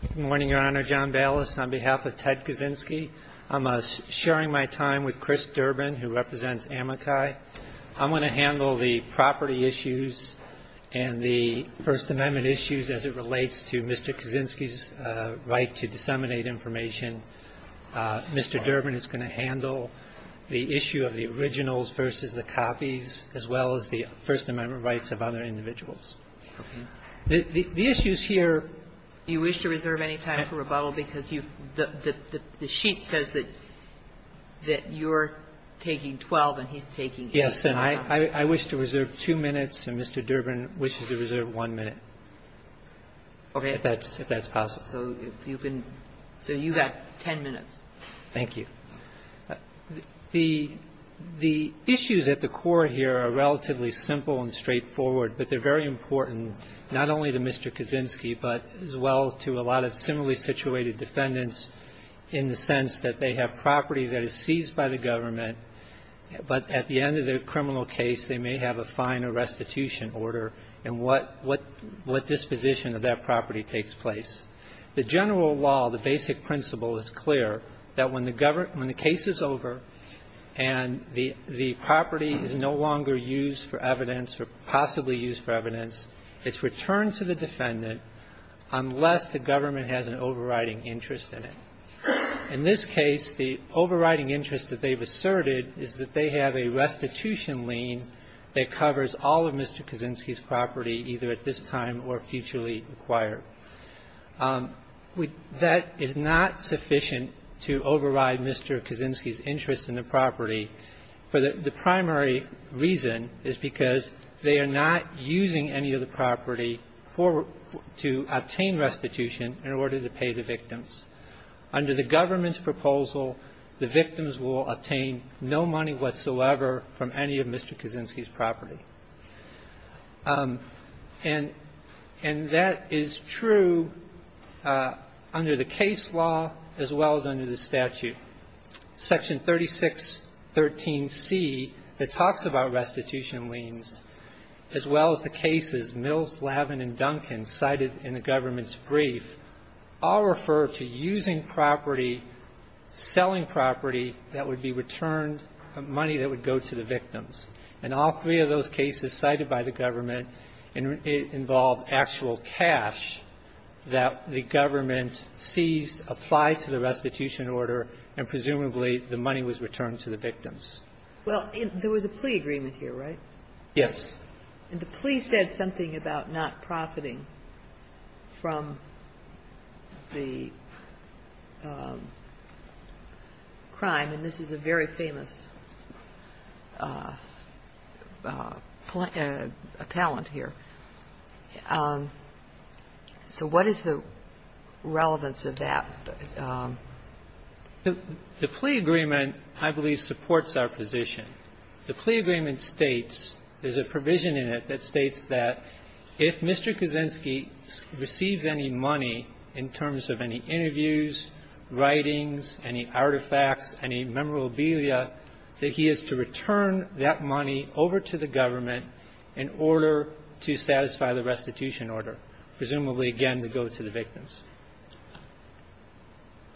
Good morning, Your Honor. John Ballas on behalf of Ted Kaczynski. I'm sharing my time with Chris Durbin, who represents Amakai. I'm going to handle the property issues and the First Amendment issues as it relates to Mr. Kaczynski's right to disseminate information. Mr. Durbin is going to handle the issue of the originals versus the copies, as well as the First Amendment rights of other individuals. The issues here – Do you wish to reserve any time for rebuttal? Because you've – the sheet says that you're taking 12 and he's taking 8. Yes, and I wish to reserve two minutes, and Mr. Durbin wishes to reserve one minute, if that's possible. So you've got 10 minutes. Thank you. The issues at the core here are relatively simple and straightforward, but they're very important not only to Mr. Kaczynski, but as well to a lot of similarly situated defendants in the sense that they have property that is seized by the government, but at the end of their criminal case, they may have a fine or restitution order, and what disposition of that property takes place. The general law, the basic principle, is clear, that when the government – when the case is over and the property is no longer used for evidence or possibly used for evidence, it's returned to the defendant unless the government has an overriding interest in it. In this case, the overriding interest that they've asserted is that they have a restitution lien that covers all of Mr. Kaczynski's property, either at this time or futurely required. That is not sufficient to override Mr. Kaczynski's interest in the property for the primary reason is because they are not using any of the property for – to obtain restitution in order to pay the victims. Under the government's proposal, the victims will obtain no money whatsoever from any of Mr. Kaczynski's property. And that is true under the case law as well as under the statute. Section 3613C, that talks about restitution liens, as well as the cases Mills, Lavin, and Duncan cited in the government's brief, all refer to using property, selling property that would be returned, money that would go to the victims. And all three of those cases cited by the government involved actual cash that the government seized, applied to the restitution order, and presumably the money was returned to the victims. Well, there was a plea agreement here, right? Yes. And the plea said something about not profiting from the crime, and this is a very important appellant here. So what is the relevance of that? The plea agreement, I believe, supports our position. The plea agreement states, there's a provision in it that states that if Mr. Kaczynski receives any money in terms of any interviews, writings, any artifacts, any memorabilia, that he is to return that money over to the government in order to satisfy the restitution order, presumably, again, to go to the victims.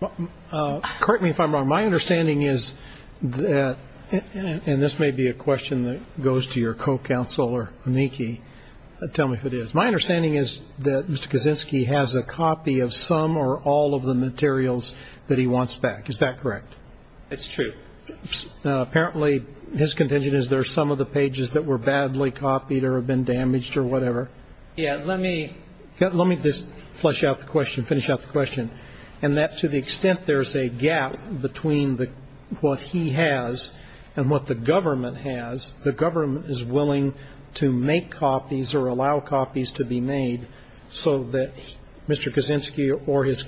Correct me if I'm wrong. My understanding is that, and this may be a question that goes to your co-counsel or amici. Tell me if it is. My understanding is that Mr. Kaczynski has a copy of some or all of the materials that he wants back. Is that correct? It's true. Apparently, his contention is there are some of the pages that were badly copied or have been damaged or whatever. Yes. Let me just flush out the question, finish out the question, and that to the extent there's a gap between what he has and what the government has, the government is willing to make copies or allow copies to be made so that Mr. Kaczynski or his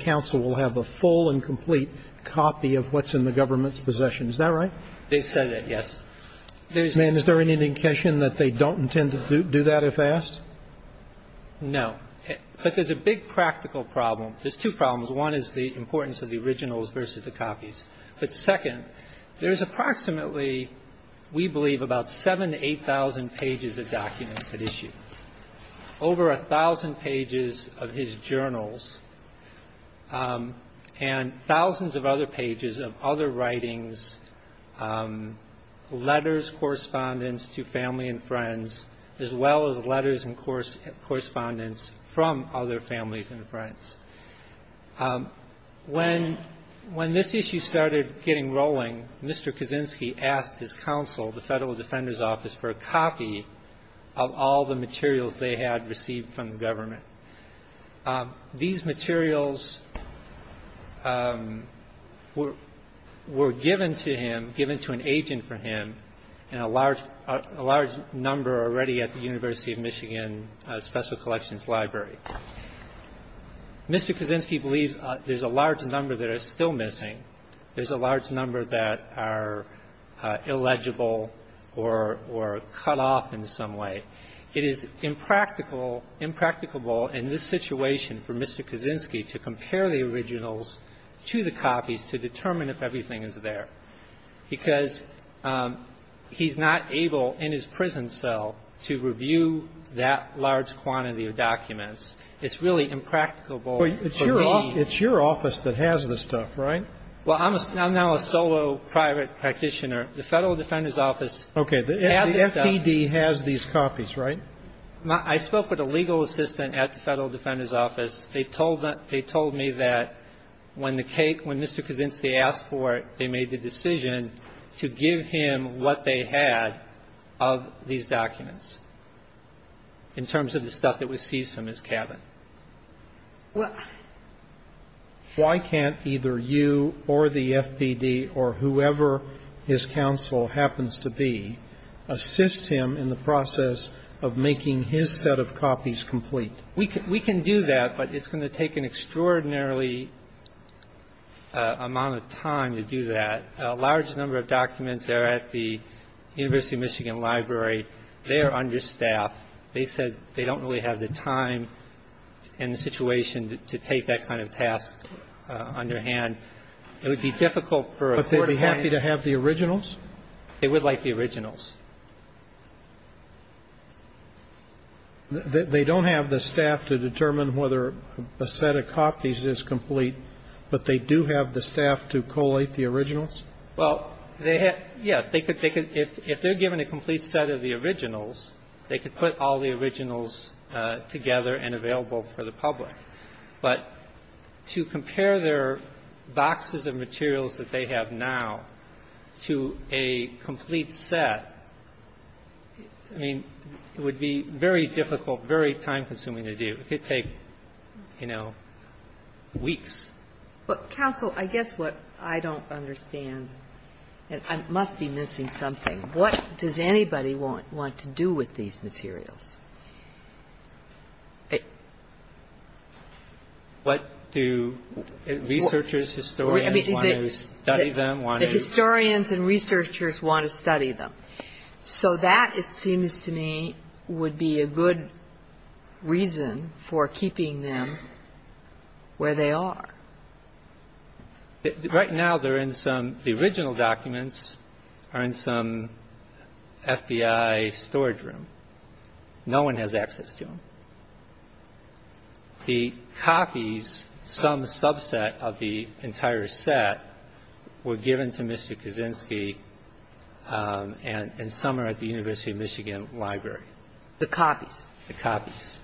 possessions, is that right? They've said that, yes. And is there any indication that they don't intend to do that if asked? No. But there's a big practical problem. There's two problems. One is the importance of the originals versus the copies. But second, there's approximately, we believe, about 7,000 to 8,000 pages of documents at issue, over 1,000 pages of his journals, and thousands of other pages of other writings, letters, correspondence to family and friends, as well as letters and correspondence from other families and friends. When this issue started getting rolling, Mr. Kaczynski asked his counsel, the Federal Defender's Office, for a copy of all the materials they had received from the government. These materials were given to him, given to an agent for him, in a large number already at the University of Michigan Special Collections Library. Mr. Kaczynski believes there's a large number that is still missing. There's a large number that are illegible or cut off in some way. It is impractical, impracticable in this situation for Mr. Kaczynski to compare the originals to the copies to determine if everything is there. Because he's not able, in his prison cell, to review that large quantity of documents. It's really impracticable for me. It's your office that has the stuff, right? Well, I'm now a solo private practitioner. The Federal Defender's Office has the stuff. Okay. The FPD has these copies, right? I spoke with a legal assistant at the Federal Defender's Office. They told me that when the case, when Mr. Kaczynski asked for it, they made the decision to give him what they had of these documents in terms of the stuff that was seized from his cabin. Why can't either you or the FPD or whoever his counsel happens to be assist him in the process of making his set of copies complete? We can do that, but it's going to take an extraordinarily amount of time to do that. A large number of documents are at the University of Michigan Library. They are understaffed. They said they don't really have the time and the situation to take that kind of task on their hand. It would be difficult for a court to find them. But they'd be happy to have the originals? They would like the originals. They don't have the staff to determine whether a set of copies is complete, but they do have the staff to collate the originals? Well, they have to. If they're given a complete set of the originals, they could put all the originals together and available for the public. But to compare their boxes of materials that they have now to a complete set, I mean, it would be very difficult, very time-consuming to do. It could take, you know, weeks. Counsel, I guess what I don't understand, and I must be missing something, what does anybody want to do with these materials? What do researchers, historians want to study them? The historians and researchers want to study them. So that, it seems to me, would be a good reason for keeping them where they are. Right now, they're in some, the original documents are in some FBI storage room. No one has access to them. The copies, some subset of the entire set, were given to Mr. Kaczynski, and some are at the University of Michigan Library. The copies? The copies.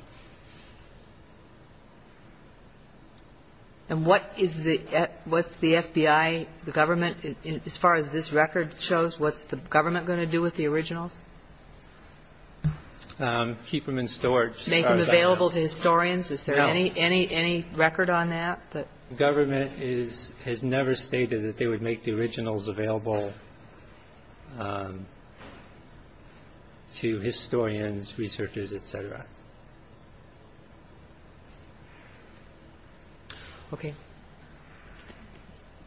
And what is the, what's the FBI, the government, as far as this record shows, what's the government going to do with the originals? Keep them in storage. Make them available to historians? Is there any record on that? The government has never stated that they would make the originals available to historians, researchers, et cetera. Okay.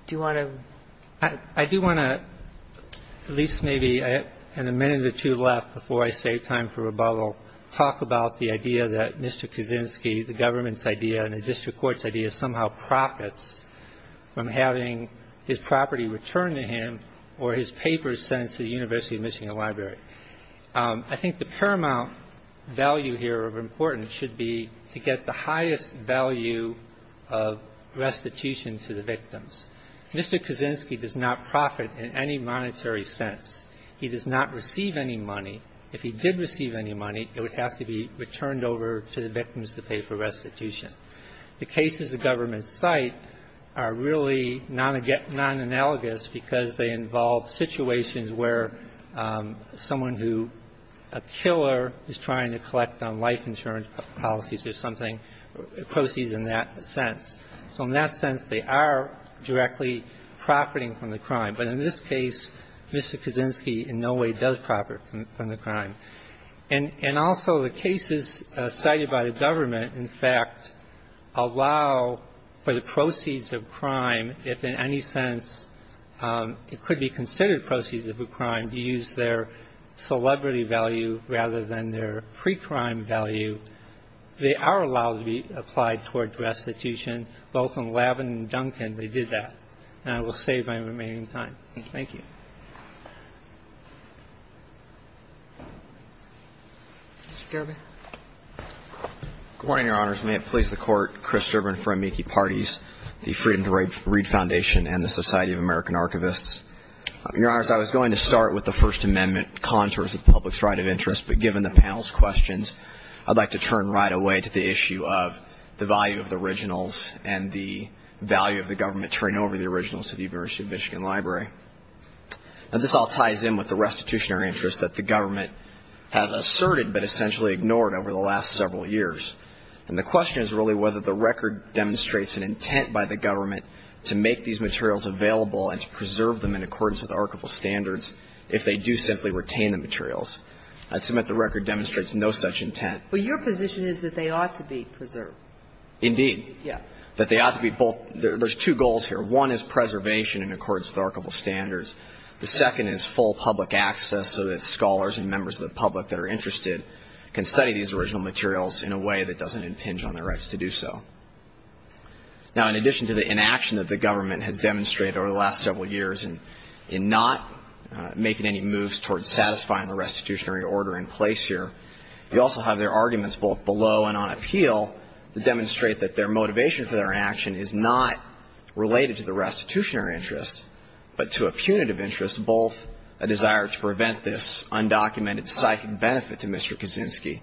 Do you want to? I do want to, at least maybe in a minute or two left before I say time for rebuttal, talk about the idea that Mr. Kaczynski, the government's idea and the district court's idea, somehow profits from having his property returned to him or his papers sent to the University of Michigan Library. I think the paramount value here of importance should be to get the highest value of restitution to the victims. Mr. Kaczynski does not profit in any monetary sense. He does not receive any money. If he did receive any money, it would have to be returned over to the victims to pay for restitution. The cases the government cite are really non-analogous because they involve situations where someone who, a killer, is trying to collect on life insurance policies or something, proceeds in that sense. So in that sense, they are directly profiting from the crime. But in this case, Mr. Kaczynski in no way does profit from the crime. And also the cases cited by the government, in fact, allow for the proceeds of crime if in any sense it could be considered proceeds of a crime to use their celebrity value rather than their pre-crime value. They are allowed to be applied towards restitution. Both in Lavin and Duncan, they did that. And I will save my remaining time. Thank you. Mr. Gerber. Good morning, Your Honors. May it please the Court, Chris Gerber and friend Miki Partes, the Freedom to Read Foundation, and the Society of American Archivists. Your Honors, I was going to start with the First Amendment contours of the public's right of interest, but given the panel's questions, I'd like to turn right away to the issue of the value of the originals and the value of the government turning over the originals to the University of Michigan Library. And this all ties in with the restitutionary interest that the government has asserted but essentially ignored over the last several years. And the question is really whether the record demonstrates an intent by the government to make these materials available and to preserve them in accordance with archival standards if they do simply retain the materials. I'd submit the record demonstrates no such intent. But your position is that they ought to be preserved. Indeed. Yeah. That they ought to be both. There's two goals here. One is preservation in accordance with archival standards. The second is full public access so that scholars and members of the public that are interested can study these original materials in a way that doesn't impinge on their rights to do so. Now, in addition to the inaction that the government has demonstrated over the last several years in not making any moves towards satisfying the restitutionary order in place here, you also have their arguments both below and on appeal that demonstrate that their motivation for their action is not related to the restitutionary interest but to a punitive interest, both a desire to prevent this undocumented psychic benefit to Mr. Kaczynski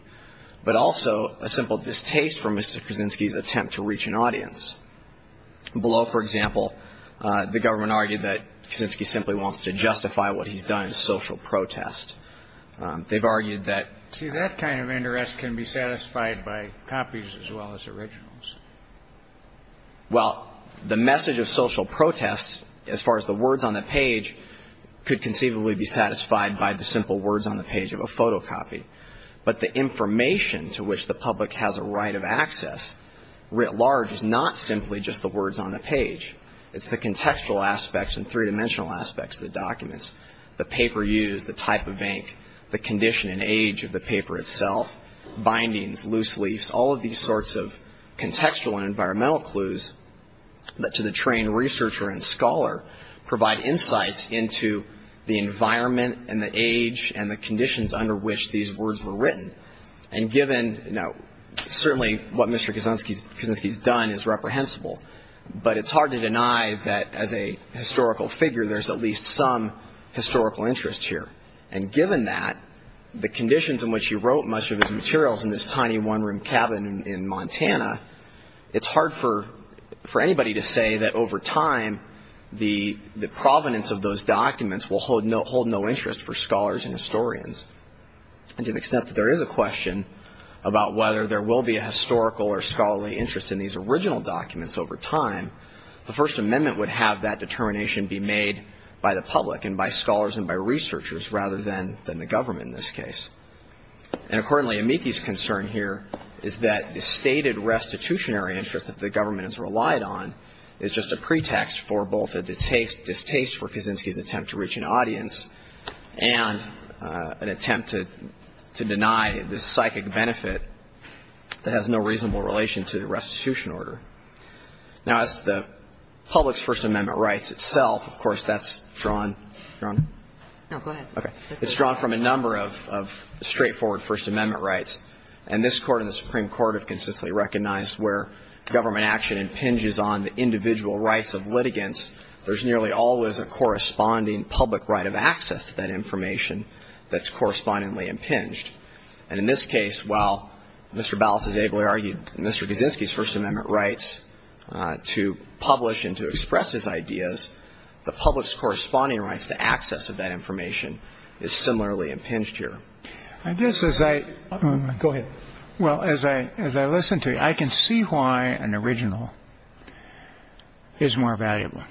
but also a simple distaste for Mr. Kaczynski's attempt to reach an audience. Below, for example, the government argued that Kaczynski simply wants to justify what he's done in social protest. They've argued that. See, that kind of interest can be satisfied by copies as well as originals. Well, the message of social protest, as far as the words on the page, could conceivably be satisfied by the simple words on the page of a photocopy. But the information to which the public has a right of access writ large is not simply just the words on the page. It's the contextual aspects and three-dimensional aspects of the documents, the paper used, the type of ink, the condition and age of the paper itself, bindings, loose leafs, all of these sorts of contextual and environmental clues that to the trained researcher and scholar provide insights into the environment and the age and the conditions under which these words were written. And given, you know, certainly what Mr. Kaczynski's done is reprehensible, but it's hard to deny that as a historical figure there's at least some historical interest here. And given that, the conditions in which he wrote much of his materials in this tiny one-room cabin in Montana, it's hard for anybody to say that over time the provenance of those documents will hold no interest for scholars and historians. And to the extent that there is a question about whether there will be a historical or scholarly interest in these original documents over time, the First Amendment would have that determination be made by the public and by scholars and by researchers rather than the government in this case. And accordingly, Amiki's concern here is that the stated restitutionary interest that the government has relied on is just a pretext for both a distaste for Kaczynski's attempt to reach an audience and an attempt to deny this psychic benefit that has no reasonable relation to the restitution order. Now, as to the public's First Amendment rights itself, of course, that's drawn from a number of straightforward First Amendment rights. And this Court and the Supreme Court have consistently recognized where government action impinges on the individual rights of litigants, there's nearly always a corresponding public right of access to that information that's correspondingly impinged. And in this case, while Mr. Ballas has ably argued in Mr. Kaczynski's First Amendment rights to publish and to express his ideas, the public's corresponding rights to access of that information is similarly impinged here. I guess as I go ahead. Well, as I as I listen to you, I can see why an original is more valuable.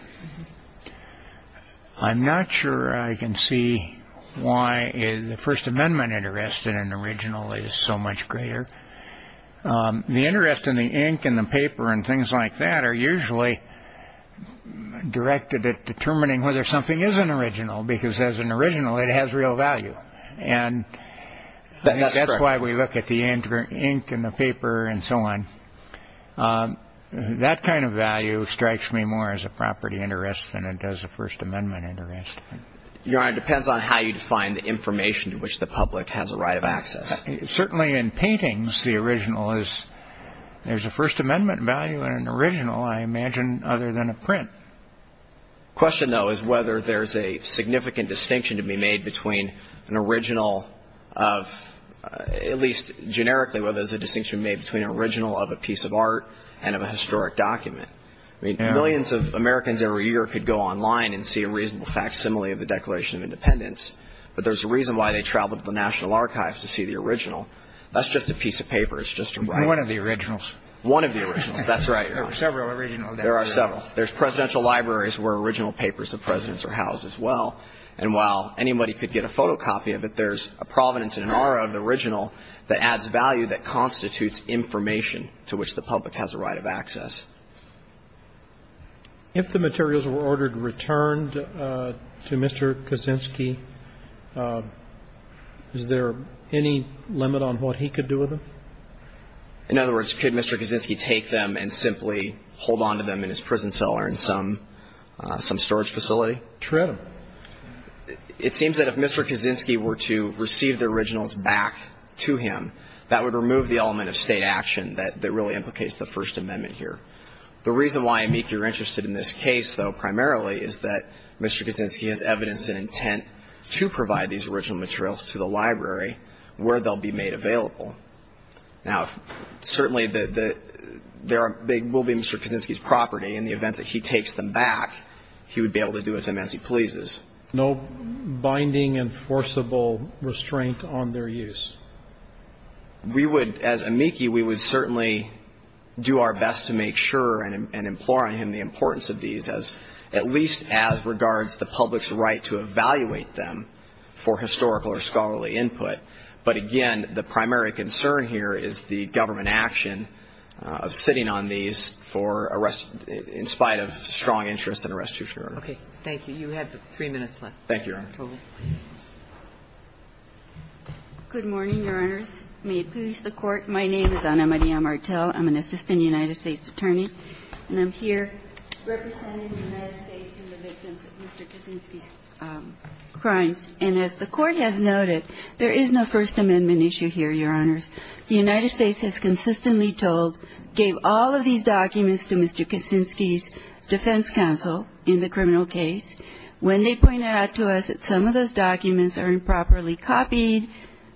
I'm not sure I can see why the First Amendment interest in an original is so much greater. The interest in the ink and the paper and things like that are usually directed at determining whether something is an original, because as an original, it has real value. And that's why we look at the ink and the paper and so on. That kind of value strikes me more as a property interest than it does a First Amendment interest. Your Honor, it depends on how you define the information to which the public has a right of access. Certainly in paintings, the original is there's a First Amendment value in an original, I imagine, other than a print. The question, though, is whether there's a significant distinction to be made between an original of, at least generically, whether there's a distinction to be made between an original of a piece of art and of a historic document. I mean, millions of Americans every year could go online and see a reasonable facsimile of the Declaration of Independence, but there's a reason why they travel to the National Archives to see the original. That's just a piece of paper. It's just a one. One of the originals. One of the originals. That's right, Your Honor. There are several originals. There are several. There's presidential libraries where original papers of presidents are housed as well. And while anybody could get a photocopy of it, there's a provenance and an aura of the original that adds value that constitutes information to which the public has a right of access. If the materials were ordered returned to Mr. Kaczynski, is there any limit on what he could do with them? In other words, could Mr. Kaczynski take them and simply hold on to them in his prison cell or in some storage facility? True. It seems that if Mr. Kaczynski were to receive the originals back to him, that would remove the element of state action that really implicates the First Amendment here. The reason why, Amik, you're interested in this case, though, primarily is that Mr. Kaczynski has evidence and intent to provide these original materials to the library where they'll be made available. Now, certainly, they will be Mr. Kaczynski's property. In the event that he takes them back, he would be able to do with them as he pleases. No binding enforceable restraint on their use? We would, as Amiki, we would certainly do our best to make sure and implore on him the importance of these, at least as regards the public's right to evaluate them for historical or scholarly input. But, again, the primary concern here is the government action of sitting on these in spite of strong interest in a restitution order. Okay. Thank you. You have three minutes left. Thank you, Your Honor. Good morning, Your Honors. May it please the Court. My name is Ana Maria Martel. I'm an assistant United States attorney. And I'm here representing the United States and the victims of Mr. Kaczynski's crimes. And as the Court has noted, there is no First Amendment issue here, Your Honors. The United States has consistently told, gave all of these documents to Mr. Kaczynski's defense counsel in the criminal case. When they point out to us that some of those documents are improperly copied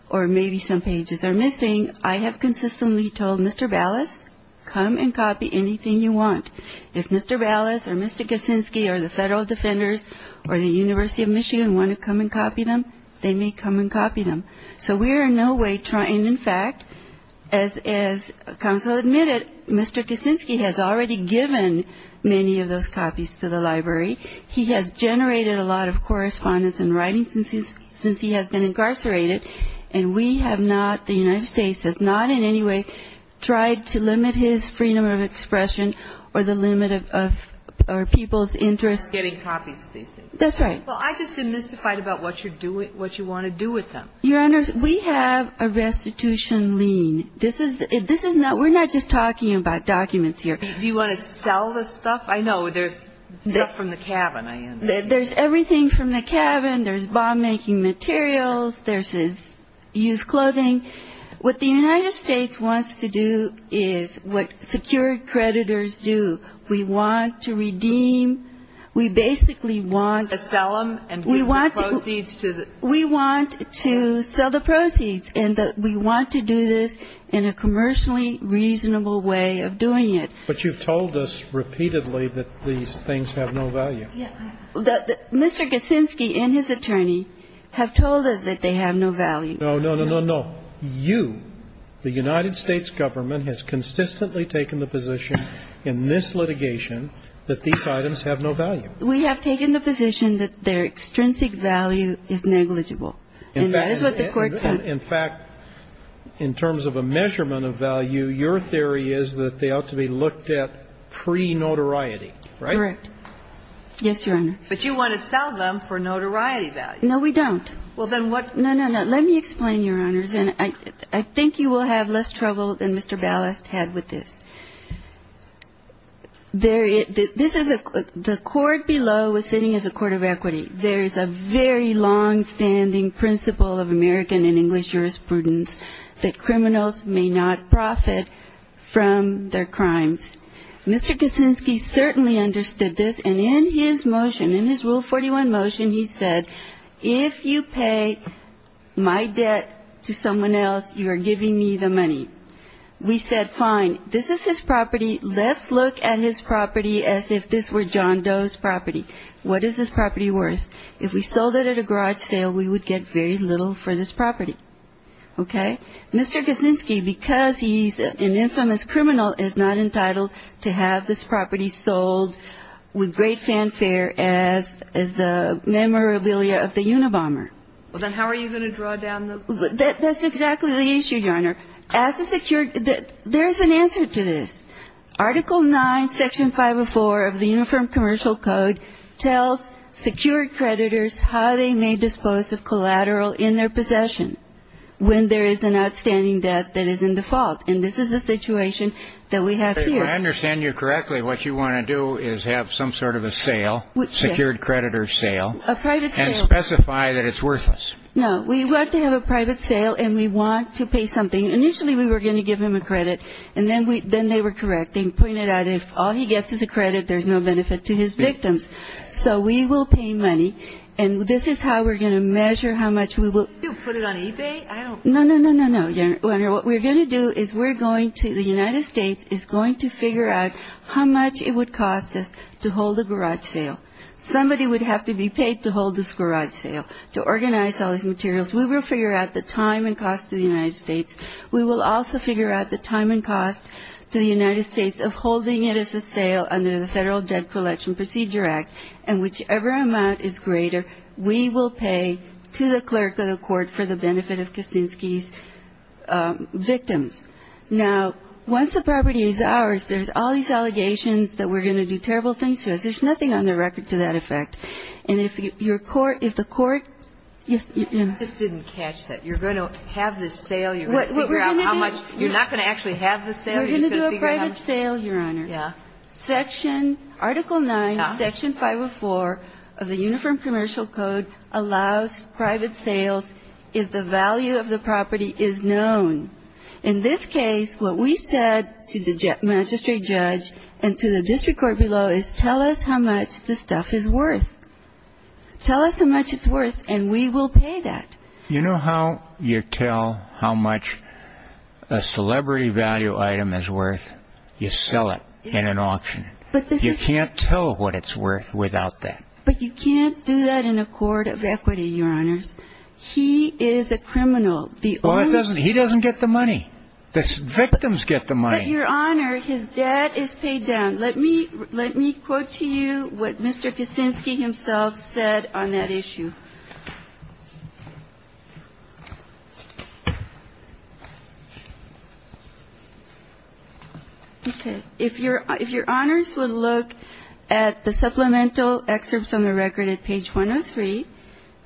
or maybe some pages are missing, I have consistently told Mr. Ballas, come and copy anything you want. If Mr. Ballas or Mr. Kaczynski or the federal defenders or the University of Michigan want to come and copy them, they may come and copy them. So we are in no way trying, in fact, as counsel admitted, Mr. Kaczynski has already given many of those copies to the library. He has generated a lot of correspondence and writing since he has been incarcerated. And we have not, the United States has not in any way tried to limit his freedom of expression or the limit of our people's interests. Getting copies of these things. That's right. Well, I just am mystified about what you're doing, what you want to do with them. Your Honors, we have a restitution lien. This is not we're not just talking about documents here. Do you want to sell the stuff? I know there's stuff from the cabin. There's everything from the cabin. There's bomb-making materials. There's his used clothing. What the United States wants to do is what secured creditors do. We want to redeem. We basically want to sell them. And we want the proceeds to the. We want to sell the proceeds. And we want to do this in a commercially reasonable way of doing it. But you've told us repeatedly that these things have no value. Mr. Gosinski and his attorney have told us that they have no value. No, no, no, no, no. You, the United States government, has consistently taken the position in this litigation that these items have no value. We have taken the position that their extrinsic value is negligible. And that is what the Court found. In fact, in terms of a measurement of value, your theory is that they ought to be looked at pre-notoriety, right? Correct. Yes, Your Honor. But you want to sell them for notoriety value. No, we don't. Well, then what. No, no, no. Let me explain, Your Honors. And I think you will have less trouble than Mr. Ballast had with this. This is a. The court below is sitting as a court of equity. There is a very longstanding principle of American and English jurisprudence that criminals may not profit from their crimes. Mr. Kaczynski certainly understood this. And in his motion, in his Rule 41 motion, he said, if you pay my debt to someone else, you are giving me the money. We said, fine. This is his property. Let's look at his property as if this were John Doe's property. What is this property worth? If we sold it at a garage sale, we would get very little for this property. Okay? Mr. Kaczynski, because he's an infamous criminal, is not entitled to have this property sold with great fanfare as the memorabilia of the Unabomber. Well, then how are you going to draw down the. That's exactly the issue, Your Honor. As a secured. There is an answer to this. Article 9, Section 504 of the Uniform Commercial Code tells secured creditors how they may dispose of collateral in their possession. When there is an outstanding debt that is in default, and this is the situation that we have here. If I understand you correctly, what you want to do is have some sort of a sale, secured creditor sale. A private sale. And specify that it's worthless. No. We want to have a private sale, and we want to pay something. Initially, we were going to give him a credit, and then they were correct. They pointed out if all he gets is a credit, there's no benefit to his victims. So we will pay money, and this is how we're going to measure how much we will. You put it on eBay. I don't. No, no, no, no, Your Honor. What we're going to do is we're going to, the United States is going to figure out how much it would cost us to hold a garage sale. Somebody would have to be paid to hold this garage sale, to organize all these materials. We will figure out the time and cost to the United States. We will also figure out the time and cost to the United States of holding it as a sale under the Federal Debt Collection Procedure Act, and whichever amount is greater, we will pay to the clerk of the court for the benefit of Kaczynski's victims. Now, once the property is ours, there's all these allegations that we're going to do terrible things to us. There's nothing on the record to that effect. And if your court, if the court – I just didn't catch that. You're going to have this sale. You're going to figure out how much – What we're going to do – You're not going to actually have this sale. You're just going to figure out how much – We're going to do a private sale, Your Honor. Yeah. Article 9, Section 504 of the Uniform Commercial Code allows private sales if the value of the property is known. In this case, what we said to the magistrate judge and to the district court below is tell us how much the stuff is worth. Tell us how much it's worth, and we will pay that. You know how you tell how much a celebrity value item is worth? You sell it in an auction. You can't tell what it's worth without that. But you can't do that in a court of equity, Your Honors. He is a criminal. He doesn't get the money. The victims get the money. But, Your Honor, his debt is paid down. Let me quote to you what Mr. Kicinski himself said on that issue. Okay. If Your Honors would look at the supplemental excerpts on the record at page 103,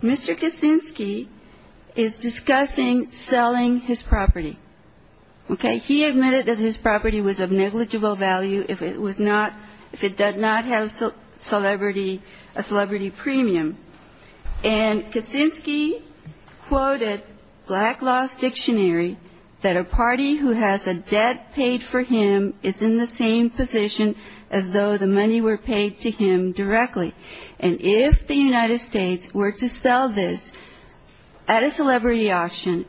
Mr. Kicinski is discussing selling his property. Okay. He admitted that his property was of negligible value if it was not – if it did not have celebrity – a celebrity premium. And Kicinski quoted Black Law's dictionary that a party who has a debt paid for him is in the same position as though the money were paid to him directly. And if the United States were to sell this at a celebrity auction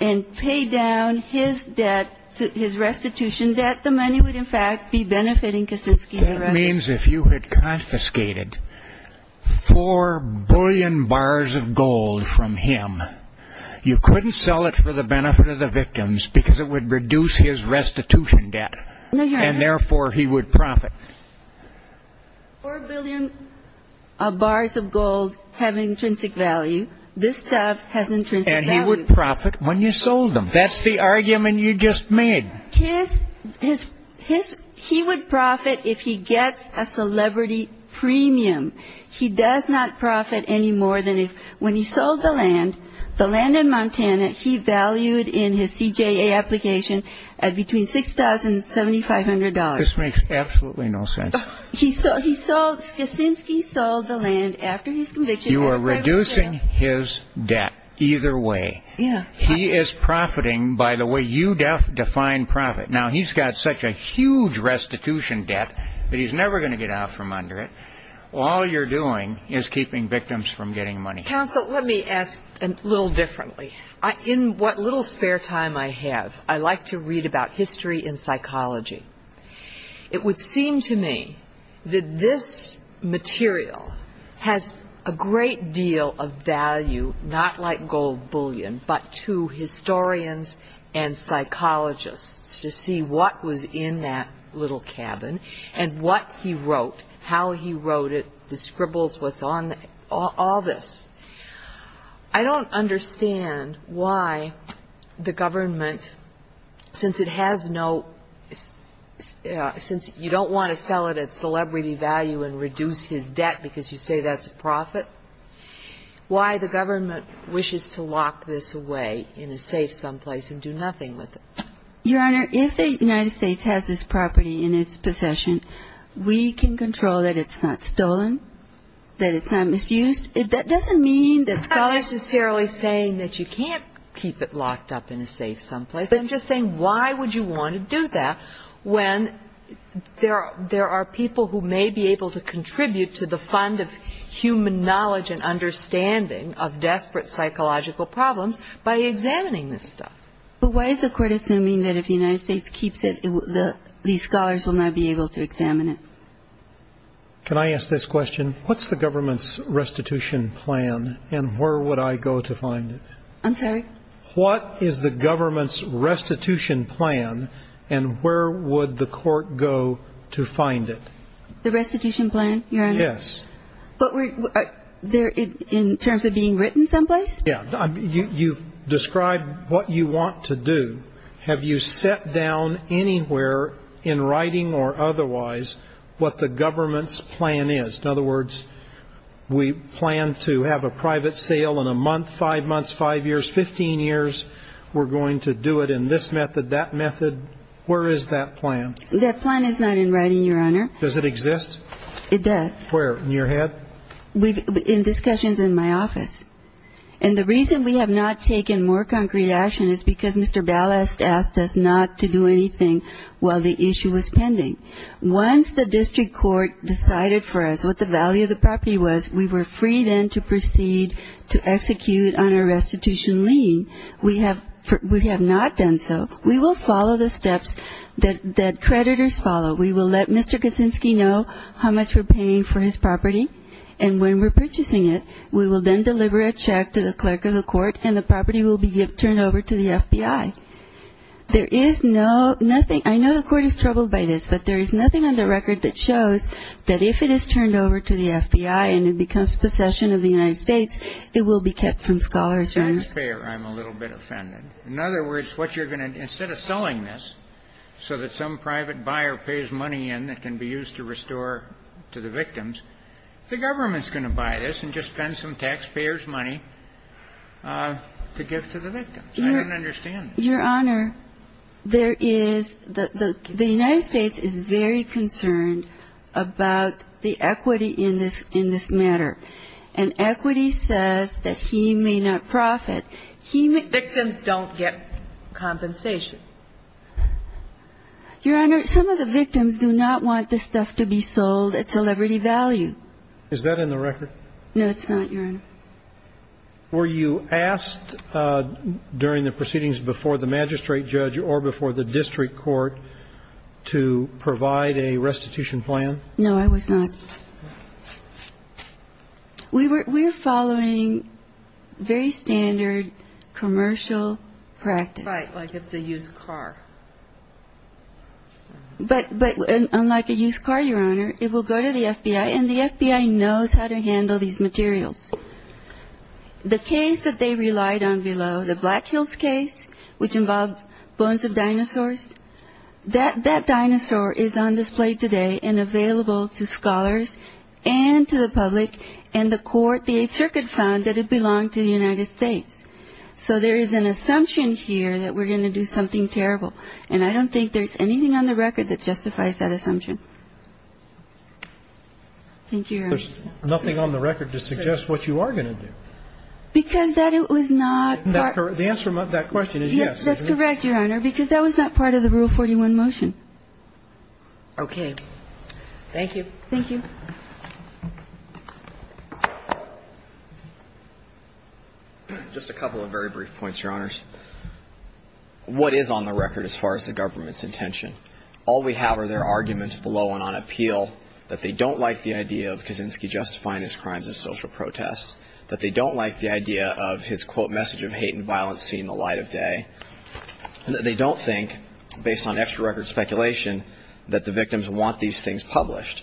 and pay down his debt, his restitution debt, the money would, in fact, be benefiting Kicinski directly. That means if you had confiscated four billion bars of gold from him, you couldn't sell it for the benefit of the victims because it would reduce his restitution debt. And, therefore, he would profit. Four billion bars of gold have intrinsic value. This stuff has intrinsic value. And he would profit when you sold them. That's the argument you just made. His – his – his – he would profit if he gets a celebrity premium. He does not profit any more than if – when he sold the land, the land in Montana, he valued in his CJA application at between $6,000 and $7,500. This makes absolutely no sense. He sold – he sold – Kicinski sold the land after his conviction. You are reducing his debt either way. Yeah. He is profiting by the way you define profit. Now, he's got such a huge restitution debt that he's never going to get out from under it. All you're doing is keeping victims from getting money. Counsel, let me ask a little differently. In what little spare time I have, I like to read about history and psychology. It would seem to me that this material has a great deal of value, not like gold bullion, but to historians and psychologists to see what was in that little cabin and what he wrote, how he wrote it, the scribbles, what's on it, all this. I don't understand why the government, since it has no – since you don't want to sell it at celebrity value and reduce his debt because you say that's a profit, why the government wishes to lock this away in a safe someplace and do nothing with it. Your Honor, if the United States has this property in its possession, we can control that it's not stolen, that it's not misused. That doesn't mean that scholars – I'm not necessarily saying that you can't keep it locked up in a safe someplace. I'm just saying why would you want to do that when there are people who may be able to contribute to the fund of human knowledge and understanding of desperate psychological problems by examining this stuff. But why is the Court assuming that if the United States keeps it, these scholars will not be able to examine it? Can I ask this question? What's the government's restitution plan and where would I go to find it? I'm sorry? What is the government's restitution plan and where would the Court go to find it? The restitution plan, Your Honor? Yes. But in terms of being written someplace? You've described what you want to do. Have you set down anywhere in writing or otherwise what the government's plan is? In other words, we plan to have a private sale in a month, five months, five years, 15 years. We're going to do it in this method, that method. Where is that plan? That plan is not in writing, Your Honor. Does it exist? It does. Where? In your head? In discussions in my office. And the reason we have not taken more concrete action is because Mr. Ballast asked us not to do anything while the issue was pending. Once the district court decided for us what the value of the property was, we were free then to proceed to execute on a restitution lien. We have not done so. We will follow the steps that creditors follow. We will let Mr. Kuczynski know how much we're paying for his property, and when we're purchasing it, we will then deliver a check to the clerk of the court, and the property will be turned over to the FBI. There is no ñ nothing ñ I know the court is troubled by this, but there is nothing on the record that shows that if it is turned over to the FBI and it becomes possession of the United States, it will be kept from scholars, Your Honor. I'm a little bit offended. In other words, what you're going to ñ instead of selling this so that some private buyer pays money in that can be used to restore to the victims, the government's going to buy this and just spend some taxpayers' money to give to the victims. I don't understand this. Your Honor, there is ñ the United States is very concerned about the equity in this matter. And equity says that he may not profit. He may ñ Victims don't get compensation. Your Honor, some of the victims do not want this stuff to be sold at celebrity value. Is that in the record? No, it's not, Your Honor. Were you asked during the proceedings before the magistrate judge or before the district court to provide a restitution plan? No, I was not. We were following very standard commercial practice. Right, like it's a used car. But unlike a used car, Your Honor, it will go to the FBI, and the FBI knows how to handle these materials. The case that they relied on below, the Black Hills case, which involved bones of dinosaurs, that dinosaur is on display today and available to scholars and to the public, and the court, the Eighth Circuit, found that it belonged to the United States. So there is an assumption here that we're going to do something terrible, and I don't think there's anything on the record that justifies that assumption. Thank you, Your Honor. There's nothing on the record to suggest what you are going to do. Because that was not part ñ The answer to that question is yes. That's correct, Your Honor, because that was not part of the Rule 41 motion. Okay. Thank you. Thank you. Just a couple of very brief points, Your Honors. What is on the record as far as the government's intention? All we have are their arguments below and on appeal, that they don't like the idea of Kaczynski justifying his crimes as social protests, that they don't like the idea of his, quote, message of hate and violence seen in the light of day, and that they don't think, based on extra-record speculation, that the victims want these things published.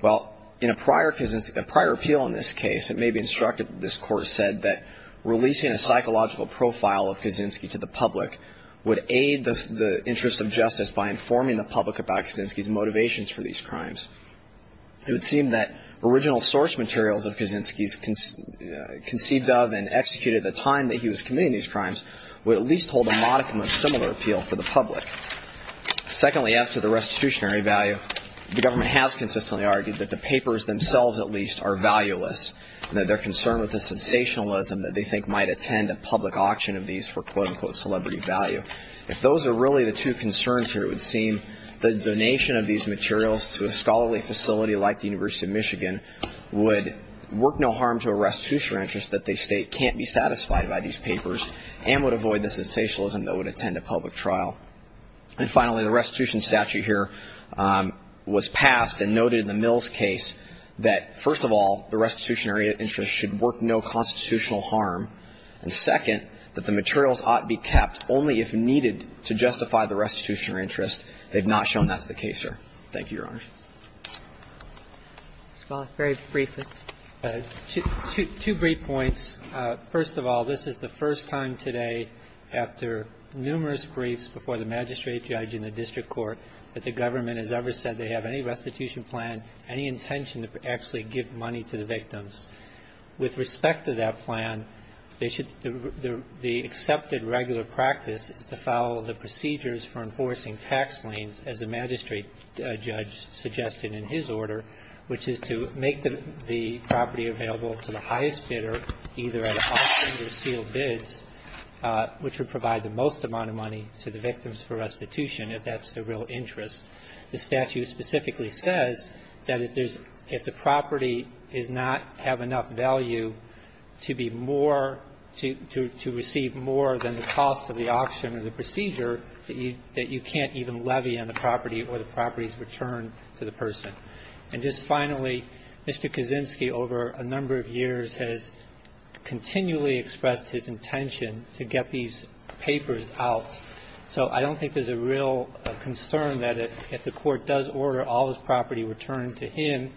Well, in a prior appeal in this case, it may be instructed that this Court said that releasing a psychological profile of Kaczynski to the public would aid the interests of justice by informing the public about Kaczynski's motivations for these crimes. It would seem that original source materials of Kaczynski's conceived of and executed at the time that he was committing these crimes would at least hold a modicum of similar appeal for the public. Secondly, as to the restitutionary value, the government has consistently argued that the papers themselves, at least, are valueless and that they're concerned with the sensationalism that they think might attend a public auction of these for, quote, unquote, celebrity value. If those are really the two concerns here, it would seem that the donation of these materials to a scholarly facility like the University of Michigan would work no harm to a restitutionary interest that they state can't be satisfied by these papers and would avoid the sensationalism that would attend a public trial. And finally, the restitution statute here was passed and noted in the Mills case that, first of all, the restitutionary interest should work no constitutional harm, and, second, that the materials ought to be kept only if needed to justify the restitutionary interest. They've not shown that's the case, sir. Thank you, Your Honor. Ms. Waller, very briefly. Two brief points. First of all, this is the first time today after numerous briefs before the magistrate judge and the district court that the government has ever said they have any restitution plan, any intention to actually give money to the victims. With respect to that plan, they should the accepted regular practice is to follow the procedures for enforcing tax liens, as the magistrate judge suggested in his order, which is to make the property available to the highest bidder either at auction or sealed bids, which would provide the most amount of money to the victims for restitution, if that's the real interest. The statute specifically says that if there's – if the property is not – have enough value to be more – to receive more than the cost of the auction and the procedure, that you can't even levy on the property or the property's return to the person. And just finally, Mr. Kaczynski, over a number of years, has continually expressed his intention to get these papers out. So I don't think there's a real concern that if the court does order all this property returned to him,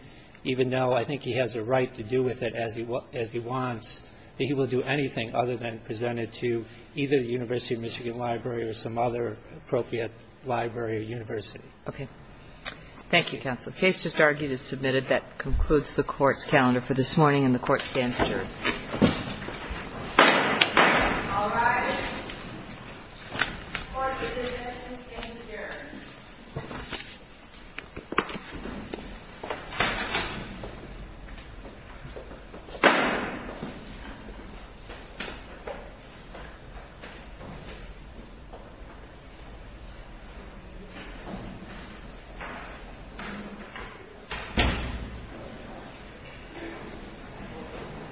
even though I think he has a right to do with it as he wants, that he will do anything other than present it to either the University of Michigan Library or some other appropriate library or university. Okay. Thank you, Counsel. The case just argued is submitted. That concludes the Court's calendar for this morning, and the Court stands adjourned. All rise. The Court is adjourned.